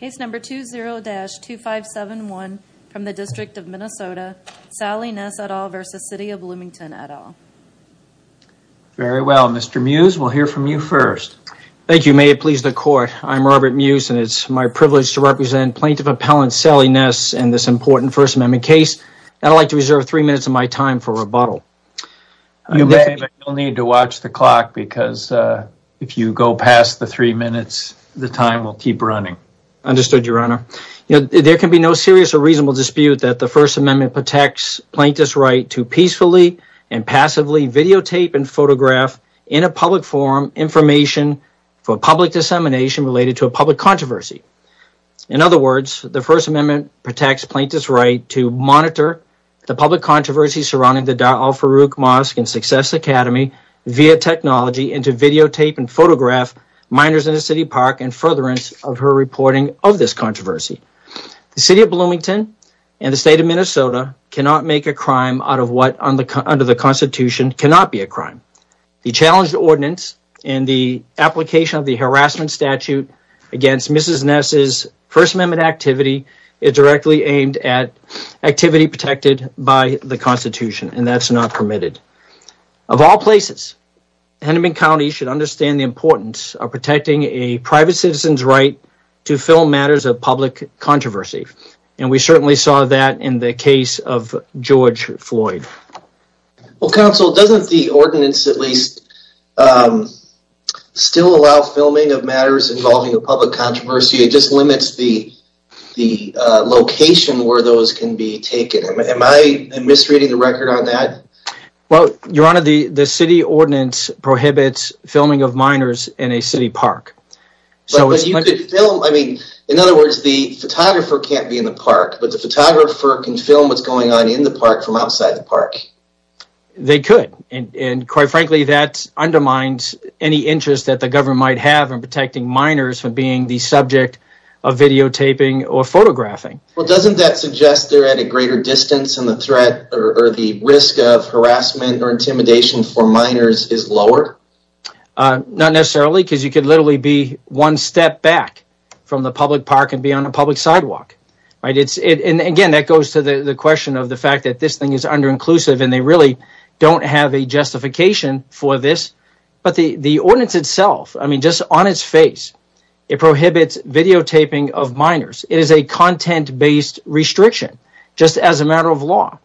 Case number 20-2571 from the District of Minnesota, Sally Ness et al versus City of Bloomington et al. Very well, Mr. Mews, we'll hear from you first. Thank you, may it please the court. I'm Robert Mews and it's my privilege to represent Plaintiff Appellant Sally Ness in this important First Amendment case. I'd like to reserve three minutes of my time for rebuttal. You'll need to watch the clock because if you go past the three minutes, the time will keep running. Understood, Your Honor. You know, there can be no serious or reasonable dispute that the First Amendment protects plaintiffs' right to peacefully and passively videotape and photograph in a public forum information for public dissemination related to a public controversy. In other words, the First Amendment protects plaintiffs' right to monitor the public controversy surrounding the Dar al-Farouk Mosque and Success Academy via technology and photograph minors in a city park in furtherance of her reporting of this controversy. The City of Bloomington and the State of Minnesota cannot make a crime out of what under the Constitution cannot be a crime. The challenged ordinance and the application of the harassment statute against Mrs. Ness's First Amendment activity is directly aimed at activity protected by the Constitution and that's not permitted. Of all places, Hennepin County should understand the importance of protecting a private citizen's right to film matters of public controversy and we certainly saw that in the case of George Floyd. Well, Counsel, doesn't the ordinance at least still allow filming of matters involving a public controversy? It just limits the location where those can be taken. Am I misreading the record on that? Well, Your Honor, the city ordinance prohibits filming of minors in a city park. But you could film, I mean, in other words, the photographer can't be in the park, but the photographer can film what's going on in the park from outside the park. They could, and quite frankly, that undermines any interest that the government might have in protecting minors from being the subject of videotaping or photographing. Well, doesn't that suggest they're at a greater distance and the threat or the risk of harassment or intimidation for minors is lower? Not necessarily, because you could literally be one step back from the public park and be on a public sidewalk. Right? It's, and again, that goes to the question of the fact that this thing is under-inclusive and they really don't have a justification for this. But the ordinance itself, I mean, just on its face, it prohibits videotaping of minors. It is a content-based restriction, just as a matter of law.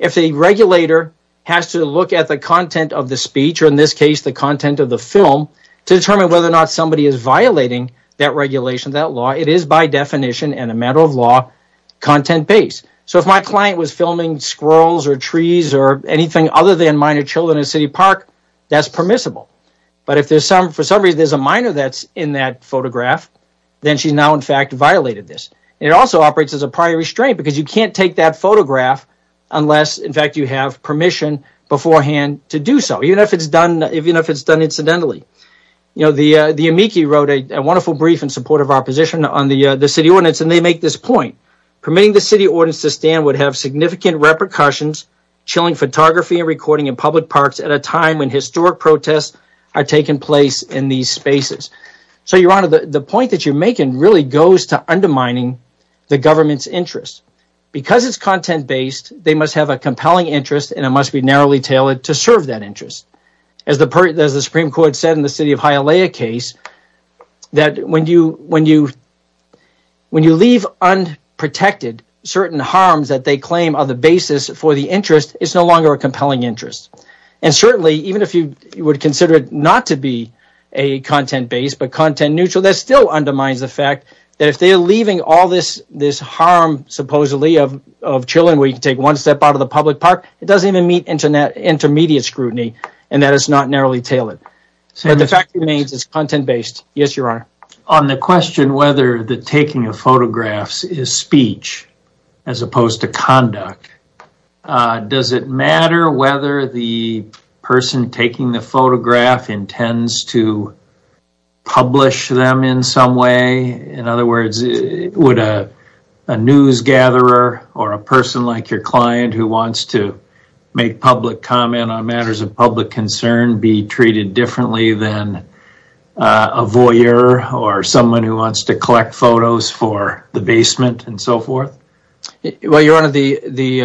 If a regulator has to look at the content of the speech, or in this case, the content of the film, to determine whether or not somebody is violating that regulation, that law, it is by definition and a matter of law, content-based. So if my client was filming squirrels or trees or anything other than minor children in a city park, that's permissible. But if there's some, for some reason, there's a minor that's in that photograph, then she's now, in fact, violated this. It also operates as a prior restraint, because you can't take that photograph unless, in fact, you have permission beforehand to do so, even if it's done, even if it's done incidentally. You know, the amici wrote a wonderful brief in support of our position on the city ordinance, and they make this point, permitting the city ordinance to stand would have significant repercussions chilling photography and recording in public parks at a time when historic protests are taking place in these spaces. So Your Honor, the point that you're making really goes to undermining the government's interests. Because it's content-based, they must have a compelling interest, and it must be narrowly tailored to serve that interest. As the Supreme Court said in the city of Hialeah case, that when you leave unprotected certain harms that they claim are the basis for the interest, it's no longer a compelling interest. And certainly, even if you would consider it not to be a content-based, but content-neutral, that still undermines the fact that if they're leaving all this harm, supposedly, of chilling where you can take one step out of the public park, it doesn't even meet intermediate scrutiny, and that is not narrowly tailored. But the fact remains, it's content-based. Yes, Your Honor. On the question whether the taking of photographs is speech as opposed to conduct, does it matter whether the person taking the photograph intends to publish them in some way? In other words, would a news gatherer or a person like your client who wants to make public comment on matters of public concern be treated differently than a voyeur or someone who wants to collect photos for the basement and so forth? Well, Your Honor, the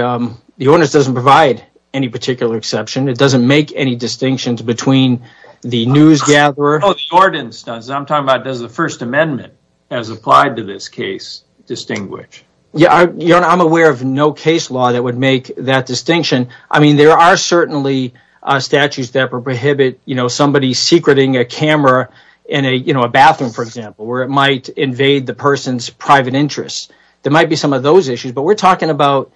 ordinance doesn't provide any particular exception. It doesn't make any distinctions between the news gatherer... The ordinance does. I'm talking about does the First Amendment, as applied to this case, distinguish? Your Honor, I'm aware of no case law that would make that distinction. I mean, there are certainly statutes that prohibit somebody secreting a camera in a bathroom, for example, where it might invade the person's private interests. There might be some of those issues, but we're talking about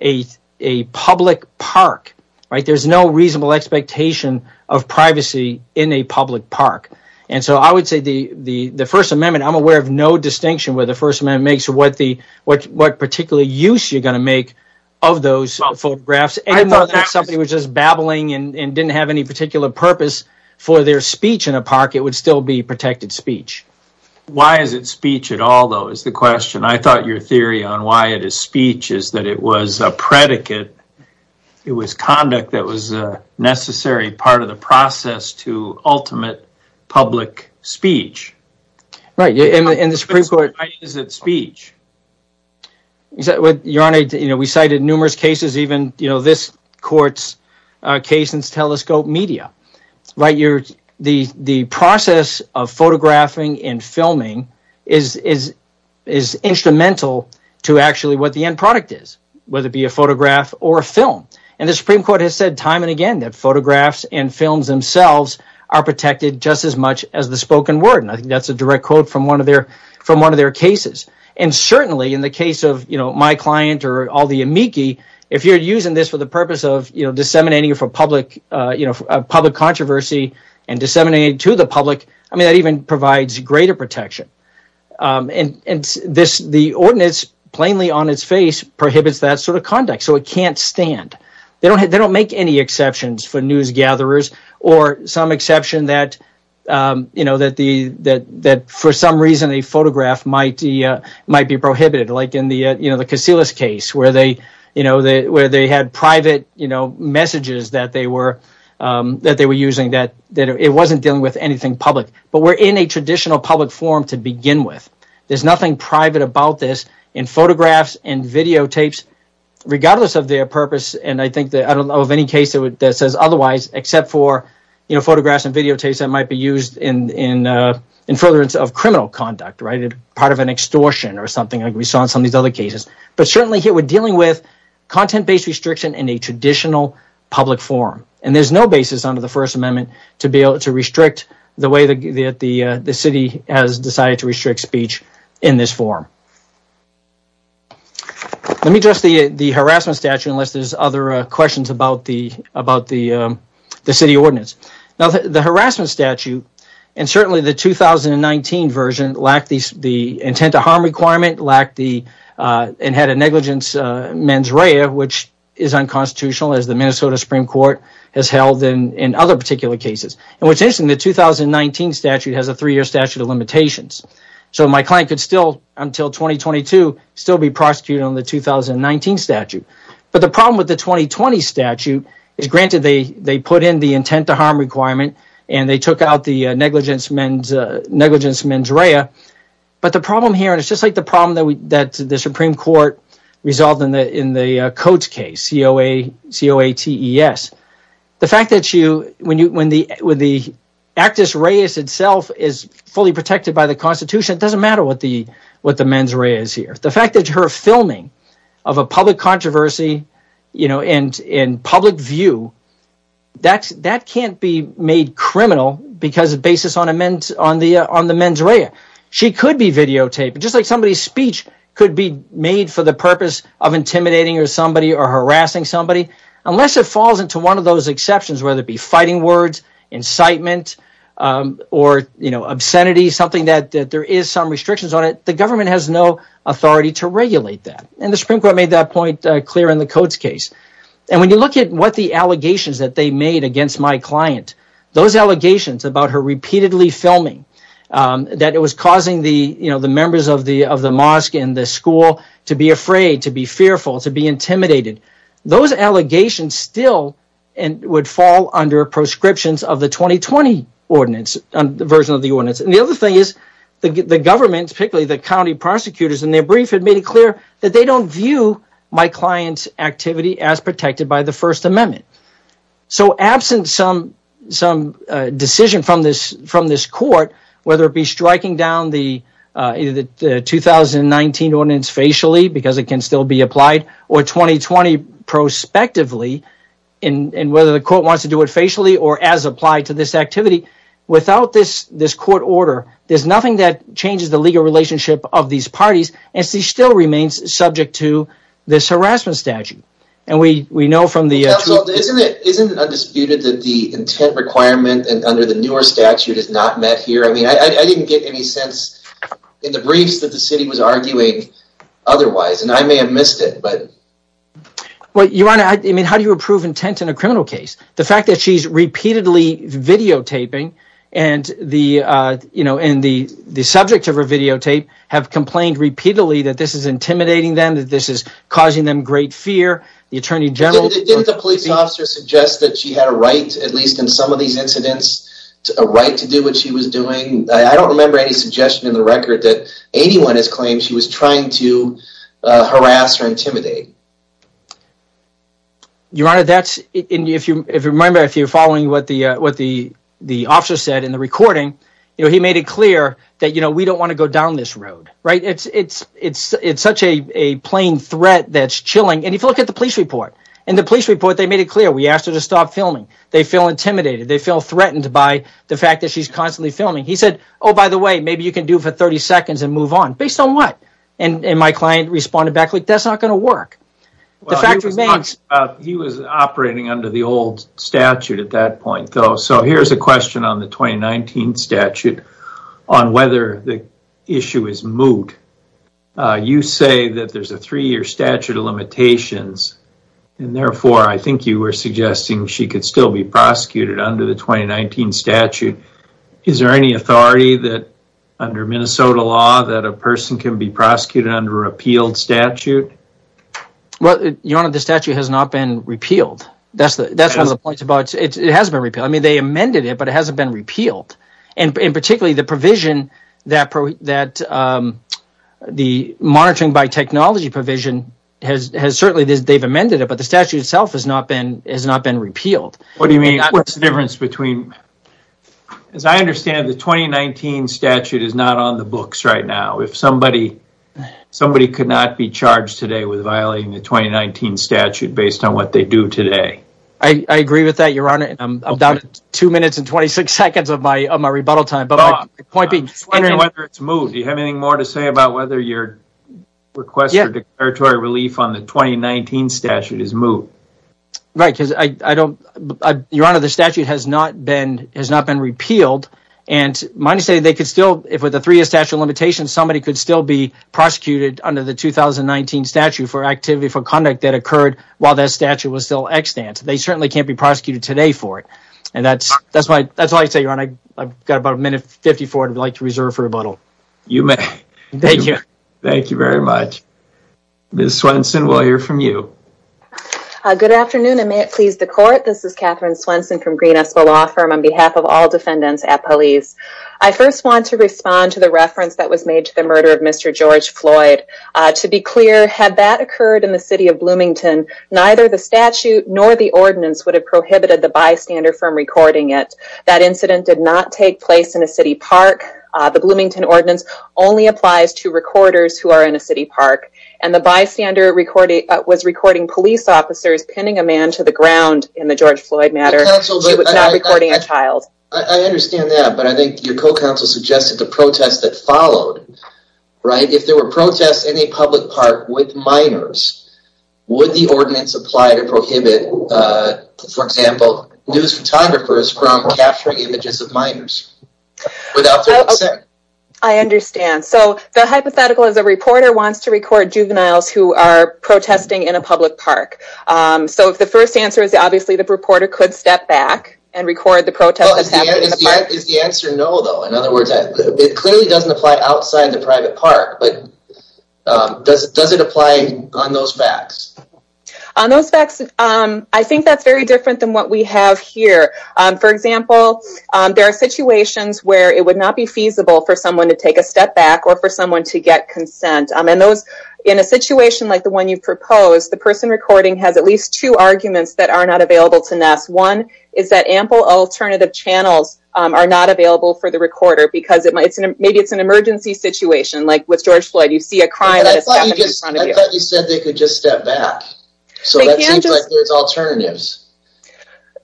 a public park, right? There's no reasonable expectation of privacy in a public park. And so I would say the First Amendment, I'm aware of no distinction where the First Amendment makes what particular use you're going to make of those photographs. Even though that somebody was just babbling and didn't have any particular purpose for their speech in a park, it would still be protected speech. Why is it speech at all, though, is the question. I thought your theory on why it is speech is that it was a predicate, it was conduct that was a necessary part of the process to ultimate public speech. Right. And the Supreme Court... Why is it speech? Your Honor, we cited numerous cases, even this court's case in Telescope Media. The process of photographing and filming is instrumental to actually what the end product is, whether it be a photograph or a film. And the Supreme Court has said time and again that photographs and films themselves are protected just as much as the spoken word. And I think that's a direct quote from one of their cases. And certainly in the case of my client or all the amici, if you're using this for the controversy and disseminating it to the public, I mean, that even provides greater protection. And the ordinance, plainly on its face, prohibits that sort of conduct, so it can't stand. They don't make any exceptions for newsgatherers or some exception that for some reason a photograph might be prohibited. Like in the Casillas case where they had private messages that they were using that it wasn't dealing with anything public. But we're in a traditional public forum to begin with. There's nothing private about this in photographs and videotapes, regardless of their purpose. And I think that I don't know of any case that says otherwise, except for photographs and videotapes that might be used in furtherance of criminal conduct, part of an extortion or something like we saw in some of these other cases. But certainly here we're dealing with content-based restriction in a traditional public forum. And there's no basis under the First Amendment to be able to restrict the way that the city has decided to restrict speech in this forum. Let me address the harassment statute, unless there's other questions about the city ordinance. The harassment statute, and certainly the 2019 version, lacked the intent to harm requirement, and had a negligence mens rea, which is unconstitutional as the Minnesota Supreme Court has held in other particular cases. And what's interesting, the 2019 statute has a three-year statute of limitations. So my client could still, until 2022, still be prosecuted on the 2019 statute. But the problem with the 2020 statute is, granted, they put in the intent to harm requirement, and they took out the negligence mens rea. But the problem here, and it's just like the problem that the Supreme Court resolved in the Coates case, C-O-A-T-E-S, the fact that when the actus reus itself is fully protected by the Constitution, it doesn't matter what the mens rea is here. The fact that her filming of a public controversy in public view, that can't be made criminal because it bases on the mens rea. She could be videotaped, just like somebody's speech could be made for the purpose of intimidating somebody or harassing somebody, unless it falls into one of those exceptions, whether it be fighting words, incitement, or obscenity, something that there is some restrictions on it. But the government has no authority to regulate that. And the Supreme Court made that point clear in the Coates case. And when you look at what the allegations that they made against my client, those allegations about her repeatedly filming, that it was causing the members of the mosque and the school to be afraid, to be fearful, to be intimidated, those allegations still would fall under proscriptions of the 2020 version of the ordinance. And the other thing is, the government, particularly the county prosecutors in their brief, had made it clear that they don't view my client's activity as protected by the First Amendment. So absent some decision from this court, whether it be striking down the 2019 ordinance facially, because it can still be applied, or 2020 prospectively, and whether the court wants to do it facially or as applied to this activity, without this court order, there's nothing that changes the legal relationship of these parties, and she still remains subject to this harassment statute. And we know from the- So isn't it undisputed that the intent requirement under the newer statute is not met here? I mean, I didn't get any sense in the briefs that the city was arguing otherwise, and I may have missed it, but... Well, Your Honor, I mean, how do you approve intent in a criminal case? The fact that she's repeatedly videotaping, and the subject of her videotape have complained repeatedly that this is intimidating them, that this is causing them great fear. The Attorney General- Didn't the police officer suggest that she had a right, at least in some of these incidents, a right to do what she was doing? I don't remember any suggestion in the record that anyone has claimed she was trying to harass or intimidate. Your Honor, that's... And if you remember, if you're following what the officer said in the recording, he made it clear that we don't want to go down this road, right? It's such a plain threat that's chilling, and if you look at the police report, in the police report, they made it clear we asked her to stop filming. They feel intimidated. They feel threatened by the fact that she's constantly filming. He said, oh, by the way, maybe you can do it for 30 seconds and move on. Based on what? My client responded back, like, that's not going to work. The fact remains- Well, he was operating under the old statute at that point, though, so here's a question on the 2019 statute on whether the issue is moot. You say that there's a three-year statute of limitations, and therefore, I think you were suggesting she could still be prosecuted under the 2019 statute. Is there any authority that, under Minnesota law, that a person can be prosecuted under a repealed statute? Well, Your Honor, the statute has not been repealed. That's one of the points about... It has been repealed. They amended it, but it hasn't been repealed, and particularly, the provision that the monitoring by technology provision has certainly... They've amended it, but the statute itself has not been repealed. What do you mean? That's the difference between... As I understand it, the 2019 statute is not on the books right now. If somebody could not be charged today with violating the 2019 statute based on what they do today- I agree with that, Your Honor. I'm down to two minutes and 26 seconds of my rebuttal time, but my point being- I'm just wondering whether it's moot. Do you have anything more to say about whether your request for declaratory relief on the 2019 statute is moot? Right, because I don't... Your Honor, the statute has not been repealed, and mind you, they could still... If with a three-year statute of limitations, somebody could still be prosecuted under the 2019 statute for activity for conduct that occurred while that statute was still extant. They certainly can't be prosecuted today for it, and that's why I say, Your Honor, I've got about a minute and 54 to reserve for rebuttal. You may. Thank you. Thank you very much. Ms. Swenson, we'll hear from you. Good afternoon, and may it please the court. This is Katherine Swenson from Green Espoir Law Firm on behalf of all defendants at police. I first want to respond to the reference that was made to the murder of Mr. George Floyd. To be clear, had that occurred in the city of Bloomington, neither the statute nor the ordinance would have prohibited the bystander from recording it. That incident did not take place in a city park. The Bloomington ordinance only applies to recorders who are in a city park, and the I understand that, but I think your co-counsel suggested the protest that followed, right? If there were protests in a public park with minors, would the ordinance apply to prohibit, for example, news photographers from capturing images of minors without their consent? I understand. So, the hypothetical is a reporter wants to record juveniles who are protesting in a public park. So, if the first answer is obviously the reporter could step back and record the protest that happened in the park. Is the answer no, though? In other words, it clearly doesn't apply outside the private park, but does it apply on those facts? On those facts, I think that's very different than what we have here. For example, there are situations where it would not be feasible for someone to take a step back or for someone to get consent. In a situation like the one you proposed, the person recording has at least two arguments that are not available to NESS. One is that ample alternative channels are not available for the recorder, because maybe it's an emergency situation, like with George Floyd. You see a crime that has happened in front of you. I thought you said they could just step back. So, that seems like there's alternatives.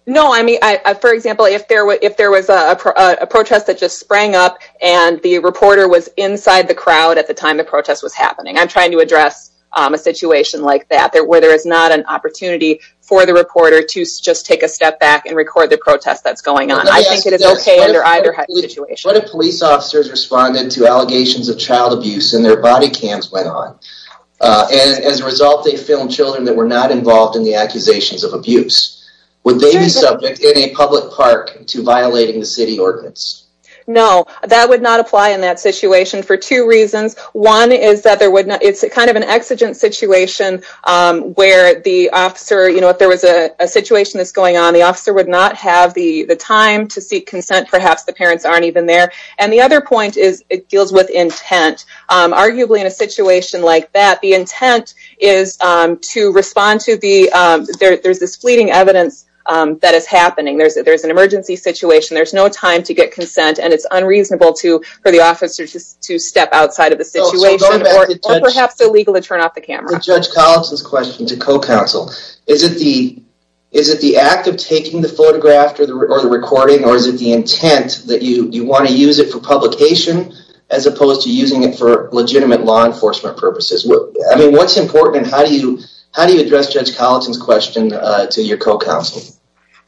No, I mean, for example, if there was a protest that just sprang up and the reporter was inside the crowd at the time the protest was happening. I'm trying to address a situation like that, where there is not an opportunity for the reporter to just take a step back and record the protest that's going on. I think it is okay under either situation. What if police officers responded to allegations of child abuse and their body cams went on? As a result, they filmed children that were not involved in the accusations of abuse. Would they be subject in a public park to violating the city ordinance? No, that would not apply in that situation for two reasons. One is that it's kind of an exigent situation where the officer, you know, if there was a situation that's going on, the officer would not have the time to seek consent. Perhaps the parents aren't even there. And the other point is it deals with intent. Arguably, in a situation like that, the intent is to respond to the, there's this fleeting evidence that is happening. There's an emergency situation. There's no time to get consent and it's unreasonable for the officer to step outside of the situation or perhaps illegal to turn off the camera. To Judge Collison's question, to co-counsel, is it the act of taking the photograph or the recording or is it the intent that you want to use it for publication as opposed to using it for legitimate law enforcement purposes? I mean, what's important and how do you address Judge Collison's question to your co-counsel?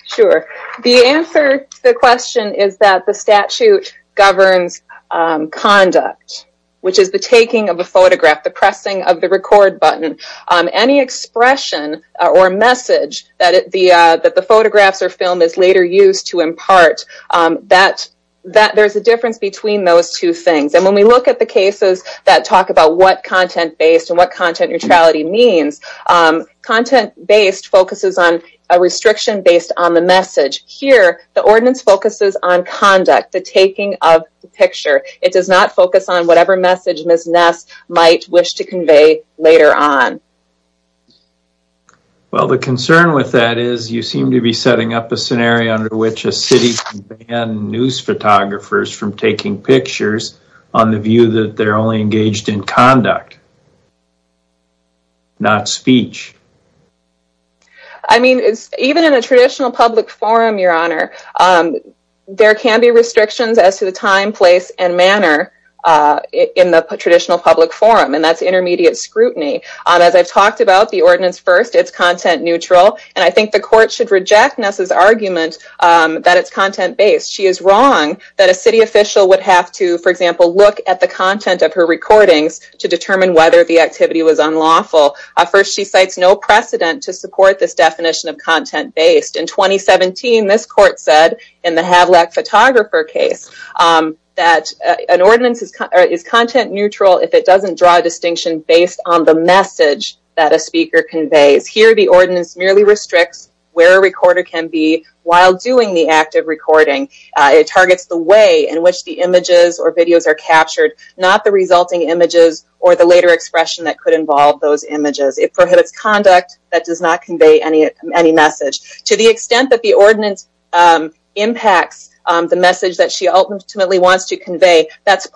Sure. The answer to the question is that the statute governs conduct, which is the taking of a photograph, the pressing of the record button. Any expression or message that the photographs or film is later used to impart, there's a difference between those two things. And when we look at the cases that talk about what content-based and what content neutrality means, content-based focuses on a restriction based on the message. Here, the ordinance focuses on conduct, the taking of the picture. It does not focus on whatever message Ms. Ness might wish to convey later on. Well, the concern with that is you seem to be setting up a scenario under which a city can ban news photographers from taking pictures on the view that they're only engaged in conduct, not speech. I mean, even in a traditional public forum, Your Honor, there can be restrictions as to the time, place, and manner in the traditional public forum, and that's intermediate scrutiny. As I've talked about, the ordinance first, it's content neutral, and I think the court should reject Ness's argument that it's content-based. She is wrong that a city official would have to, for example, look at the content of her recordings to determine whether the activity was unlawful. First, she cites no precedent to support this definition of content-based. In 2017, this court said in the Havlak photographer case that an ordinance is content neutral if it doesn't draw a distinction based on the message that a speaker conveys. Here, the ordinance merely restricts where a recorder can be while doing the act of recording. It targets the way in which the images or videos are captured, not the resulting images or the later expression that could involve those images. It prohibits conduct that does not convey any message. To the extent that the ordinance impacts the message that she ultimately wants to convey, Next,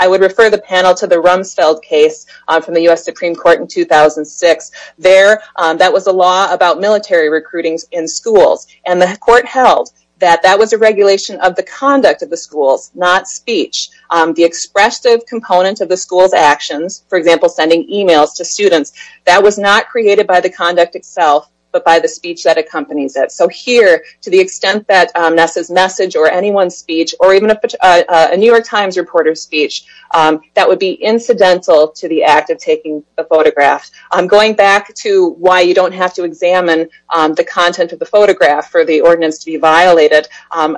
I would refer the panel to the Rumsfeld case from the U.S. Supreme Court in 2006. There, that was a law about military recruitings in schools, and the court held that that was a regulation of the conduct of the schools, not speech. The expressive component of the school's actions, for example, sending emails to students, that was not created by the conduct itself, but by the speech that accompanies it. So here, to the extent that Nessa's message or anyone's speech, or even a New York Times reporter's speech, that would be incidental to the act of taking the photograph. Going back to why you don't have to examine the content of the photograph for the ordinance to be violated,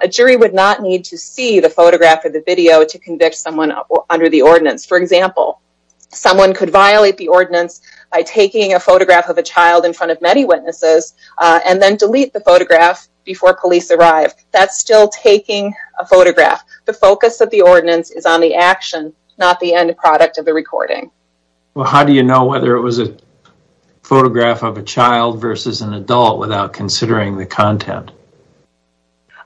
a jury would not need to see the photograph or the video to convict someone under the ordinance. For example, someone could violate the ordinance by taking a photograph of a child in front of many witnesses and then delete the photograph before police arrive. That's still taking a photograph. The focus of the ordinance is on the action, not the end product of the recording. Well, how do you know whether it was a photograph of a child versus an adult without considering the content?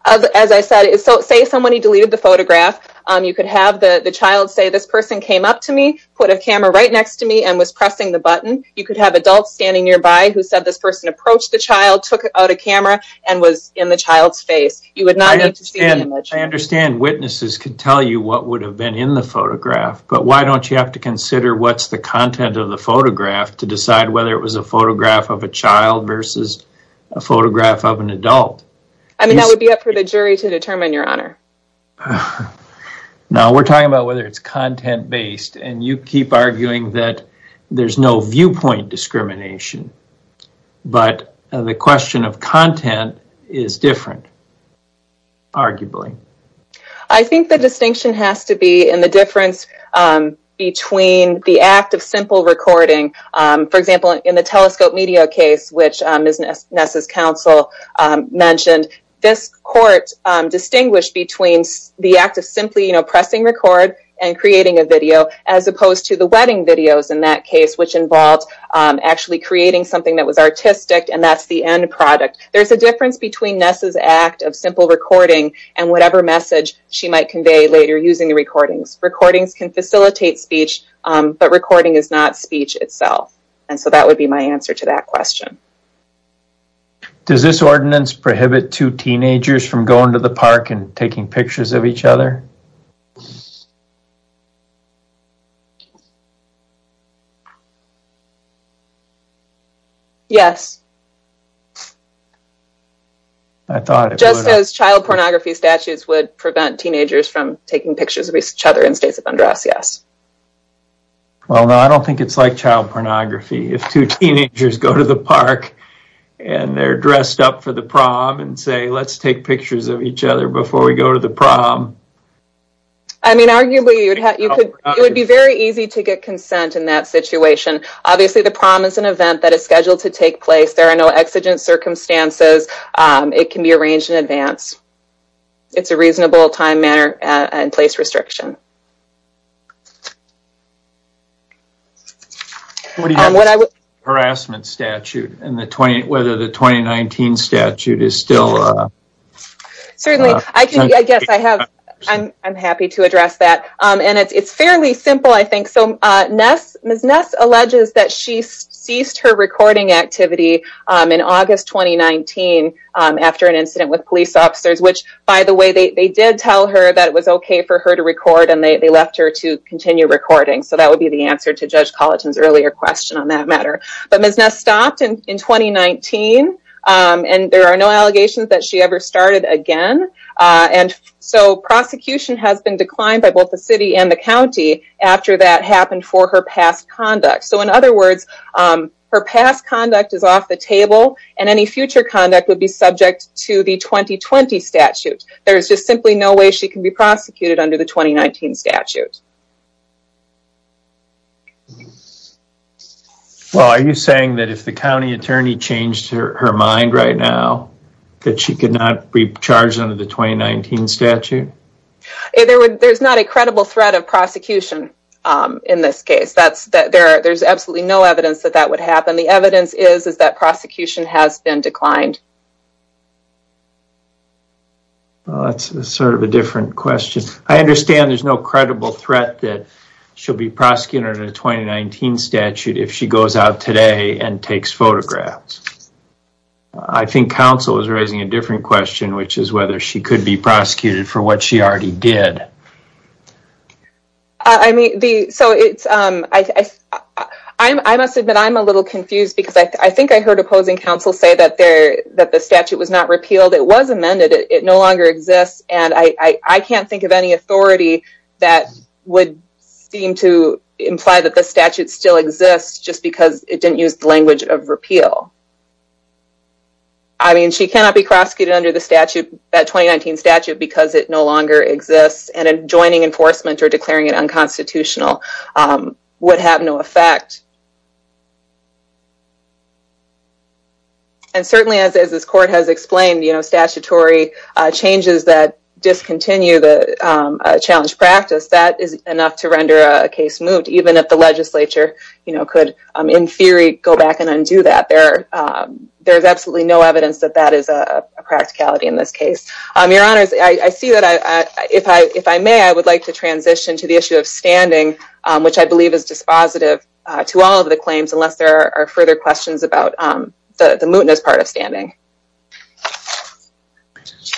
As I said, say somebody deleted the photograph, you could have the child say, this person came up to me, put a camera right next to me, and was pressing the button. You could have adults standing nearby who said this person approached the child, took out a camera, and was in the child's face. You would not need to see the image. I understand witnesses could tell you what would have been in the photograph, but why don't you have to consider what's the content of the photograph to decide whether it was a photograph of a child versus a photograph of an adult? I mean, that would be up for the jury to determine, Your Honor. Now, we're talking about whether it's content-based, and you keep arguing that there's no viewpoint discrimination, but the question of content is different, arguably. I think the distinction has to be in the difference between the act of simple recording. For example, in the telescope media case, which Ness's counsel mentioned, this court distinguished between the act of simply pressing record and creating a video, as opposed to the wedding videos in that case, which involved actually creating something that was artistic, and that's the end product. There's a difference between Ness's act of simple recording and whatever message she might convey later using the recordings. Recordings can facilitate speech, but recording is not speech itself. And so that would be my answer to that question. Does this ordinance prohibit two teenagers from going to the park and taking pictures of each other? Yes. Just as child pornography statutes would prevent teenagers from taking pictures of each other in states of undress, yes. Well, no, I don't think it's like child pornography. If two teenagers go to the park and they're dressed up for the prom and say, let's take pictures of each other before we go to the prom. I mean, arguably, it would be very easy to get consent in that situation. Obviously, the prom is an event that is scheduled to take place. There are no exigent circumstances. It can be arranged in advance. It's a reasonable time, manner, and place restriction. What do you think of the harassment statute and whether the 2019 statute is still... Certainly, I guess I'm happy to address that. And it's fairly simple, I think. So Ms. Ness alleges that she ceased her recording activity in August 2019 after an incident with police officers, which, by the way, they did tell her that it was okay for her to record. And they left her to continue recording. So that would be the answer to Judge Colleton's earlier question on that matter. But Ms. Ness stopped in 2019, and there are no allegations that she ever started again. And so prosecution has been declined by both the city and the county after that happened for her past conduct. So in other words, her past conduct is off the table, and any future conduct would be subject to the 2020 statute. There is just simply no way she can be prosecuted under the 2019 statute. Well, are you saying that if the county attorney changed her mind right now, that she could not be charged under the 2019 statute? There's not a credible threat of prosecution in this case. There's absolutely no evidence that that would happen. The evidence is that prosecution has been declined. Well, that's sort of a different question. I understand there's no credible threat that she'll be prosecuted under the 2019 statute if she goes out today and takes photographs. I think counsel is raising a different question, which is whether she could be prosecuted for what she already did. I must admit I'm a little confused, because I think I heard opposing counsel say that the statute was not repealed. It was amended. It no longer exists. And I can't think of any authority that would seem to imply that the statute still exists just because it didn't use the language of repeal. I mean, she cannot be prosecuted under the statute, that 2019 statute, because it no longer exists, and joining enforcement or declaring it unconstitutional would have no effect. And certainly, as this court has explained, statutory changes that discontinue the challenge practice, that is enough to render a case moot, even if the legislature could, in theory, go back and undo that. There's absolutely no evidence that that is a practicality in this case. Your Honors, I see that, if I may, I would like to transition to the issue of standing, which I believe is dispositive to this case. To all of the claims, unless there are further questions about the mootness part of standing.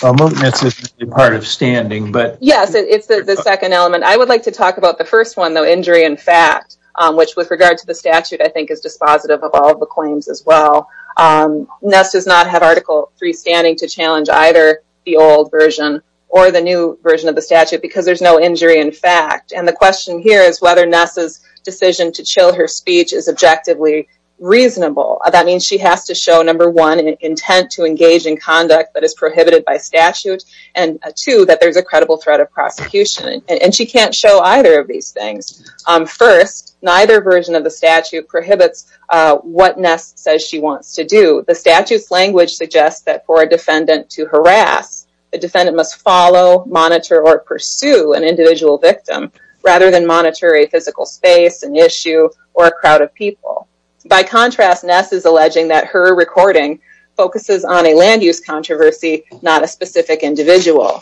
Well, mootness is part of standing, but... Yes, it's the second element. I would like to talk about the first one, though, injury in fact, which, with regard to the statute, I think is dispositive of all of the claims as well. Ness does not have Article III standing to challenge either the old version or the new version of the statute, because there's no injury in fact. And the question here is whether Ness's decision to chill her speech is objectively reasonable. That means she has to show, number one, an intent to engage in conduct that is prohibited by statute, and two, that there's a credible threat of prosecution. And she can't show either of these things. First, neither version of the statute prohibits what Ness says she wants to do. A defendant must follow, monitor, or pursue an individual victim, rather than monitor a physical space, an issue, or a crowd of people. By contrast, Ness is alleging that her recording focuses on a land-use controversy, not a specific individual.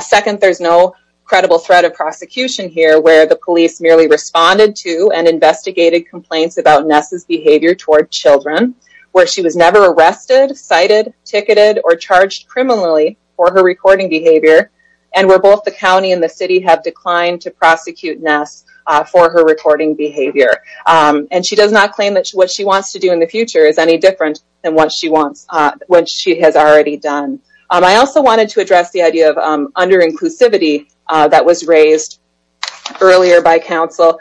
Second, there's no credible threat of prosecution here, where the police merely responded to and investigated complaints about Ness's behavior toward children, where she was never arrested, cited, ticketed, or charged criminally for her recording behavior, and where both the county and the city have declined to prosecute Ness for her recording behavior. And she does not claim that what she wants to do in the future is any different than what she has already done. I also wanted to address the idea of under-inclusivity that was raised earlier by counsel.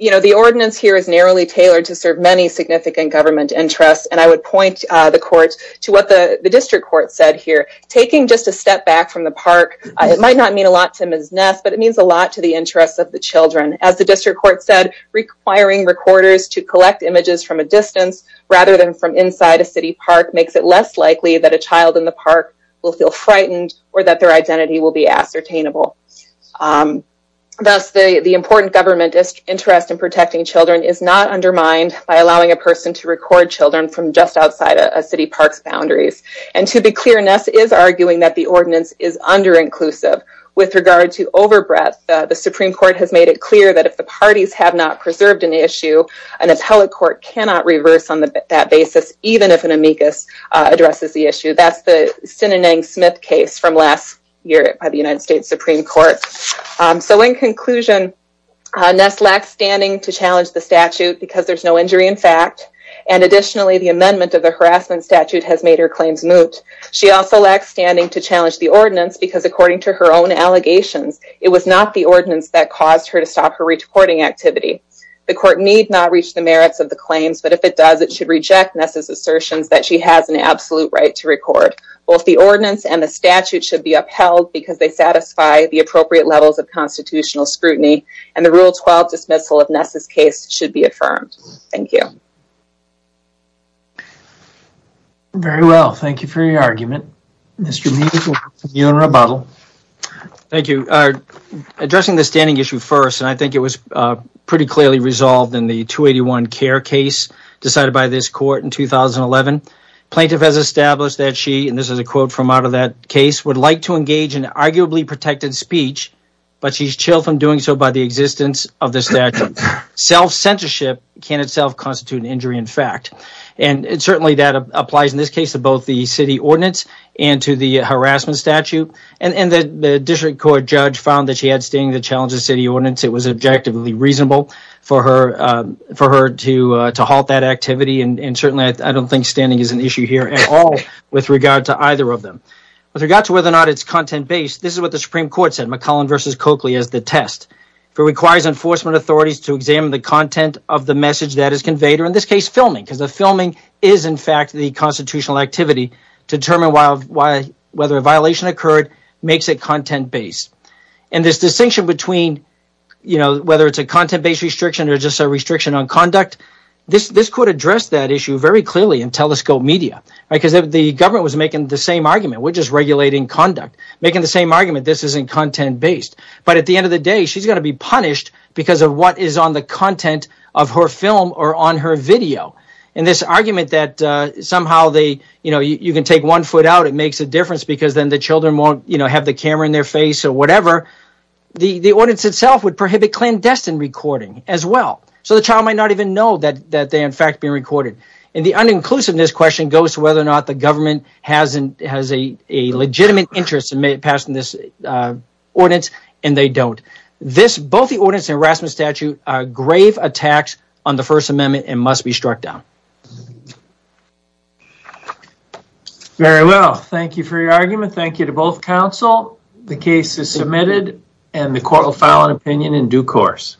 The ordinance here is narrowly tailored to serve many significant government interests, and I would point the court to what the district court said here. Taking just a step back from the park, it might not mean a lot to Ms. Ness, but it means a lot to the interests of the children. As the district court said, requiring recorders to collect images from a distance, rather than from inside a city park, makes it less likely that a child in the park will feel frightened, or that their identity will be ascertainable. Thus, the important government interest in protecting children is not undermined by allowing a person to record children from just outside a city park's boundaries. And to be clear, Ness is arguing that the ordinance is under-inclusive. With regard to over-breath, the Supreme Court has made it clear that if the parties have not preserved an issue, an appellate court cannot reverse on that basis, even if an amicus addresses the issue. That's the Sinanang Smith case from last year by the United States Supreme Court. So in conclusion, Ness lacks standing to challenge the statute because there's no injury in fact, and additionally the amendment of the harassment statute has made her claims moot. She also lacks standing to challenge the ordinance because according to her own allegations, it was not the ordinance that caused her to stop her reporting activity. The court need not reach the merits of the claims, but if it does, it should reject Ness' assertions that she has an absolute right to record. Both the ordinance and the statute should be upheld because they satisfy the appropriate levels of constitutional scrutiny, and the Rule 12 dismissal of Ness' case should be affirmed. Thank you. Very well, thank you for your argument. Mr. Mead, you're on rebuttal. Thank you. Addressing the standing issue first, and I think it was pretty clearly resolved in the 281 CARE case decided by this court in 2011. Plaintiff has established that she, and this is a quote from out of that case, would like to engage in arguably protected speech, but she's chilled from doing so by the existence of the statute. Self-censorship can itself constitute an injury in fact. And certainly that applies in this case to both the city ordinance and to the harassment statute, and the district court judge found that she had standing to challenge the city ordinance. It was objectively reasonable for her to halt that activity, and certainly I don't think standing is an issue here at all with regard to either of them. With regard to whether or not it's content-based, this is what the Supreme Court said, McCollum v. Coakley as the test. If it requires enforcement authorities to examine the content of the message that is conveyed, or in this case filming, because the filming is in fact the constitutional activity to determine whether a violation occurred makes it content-based. And this distinction between whether it's a content-based restriction or just a restriction on conduct, this court addressed that issue very clearly in Telescope Media, because the government was making the same argument, we're just regulating conduct, making the same argument, this isn't content-based. But at the end of the day, she's going to be punished because of what is on the content of her film or on her video. And this argument that somehow you can take one foot out, it makes a difference, because then the children won't have the camera in their face or whatever, the ordinance itself would prohibit clandestine recording as well. So the child might not even know that they're in fact being recorded. And the uninclusiveness question goes to whether or not the government has a legitimate interest in passing this ordinance, and they don't. Both the ordinance and the harassment statute are grave attacks on the First Amendment and must be struck down. Very well, thank you for your argument. Thank you to both counsel. The case is submitted, and the court will file an opinion in due course.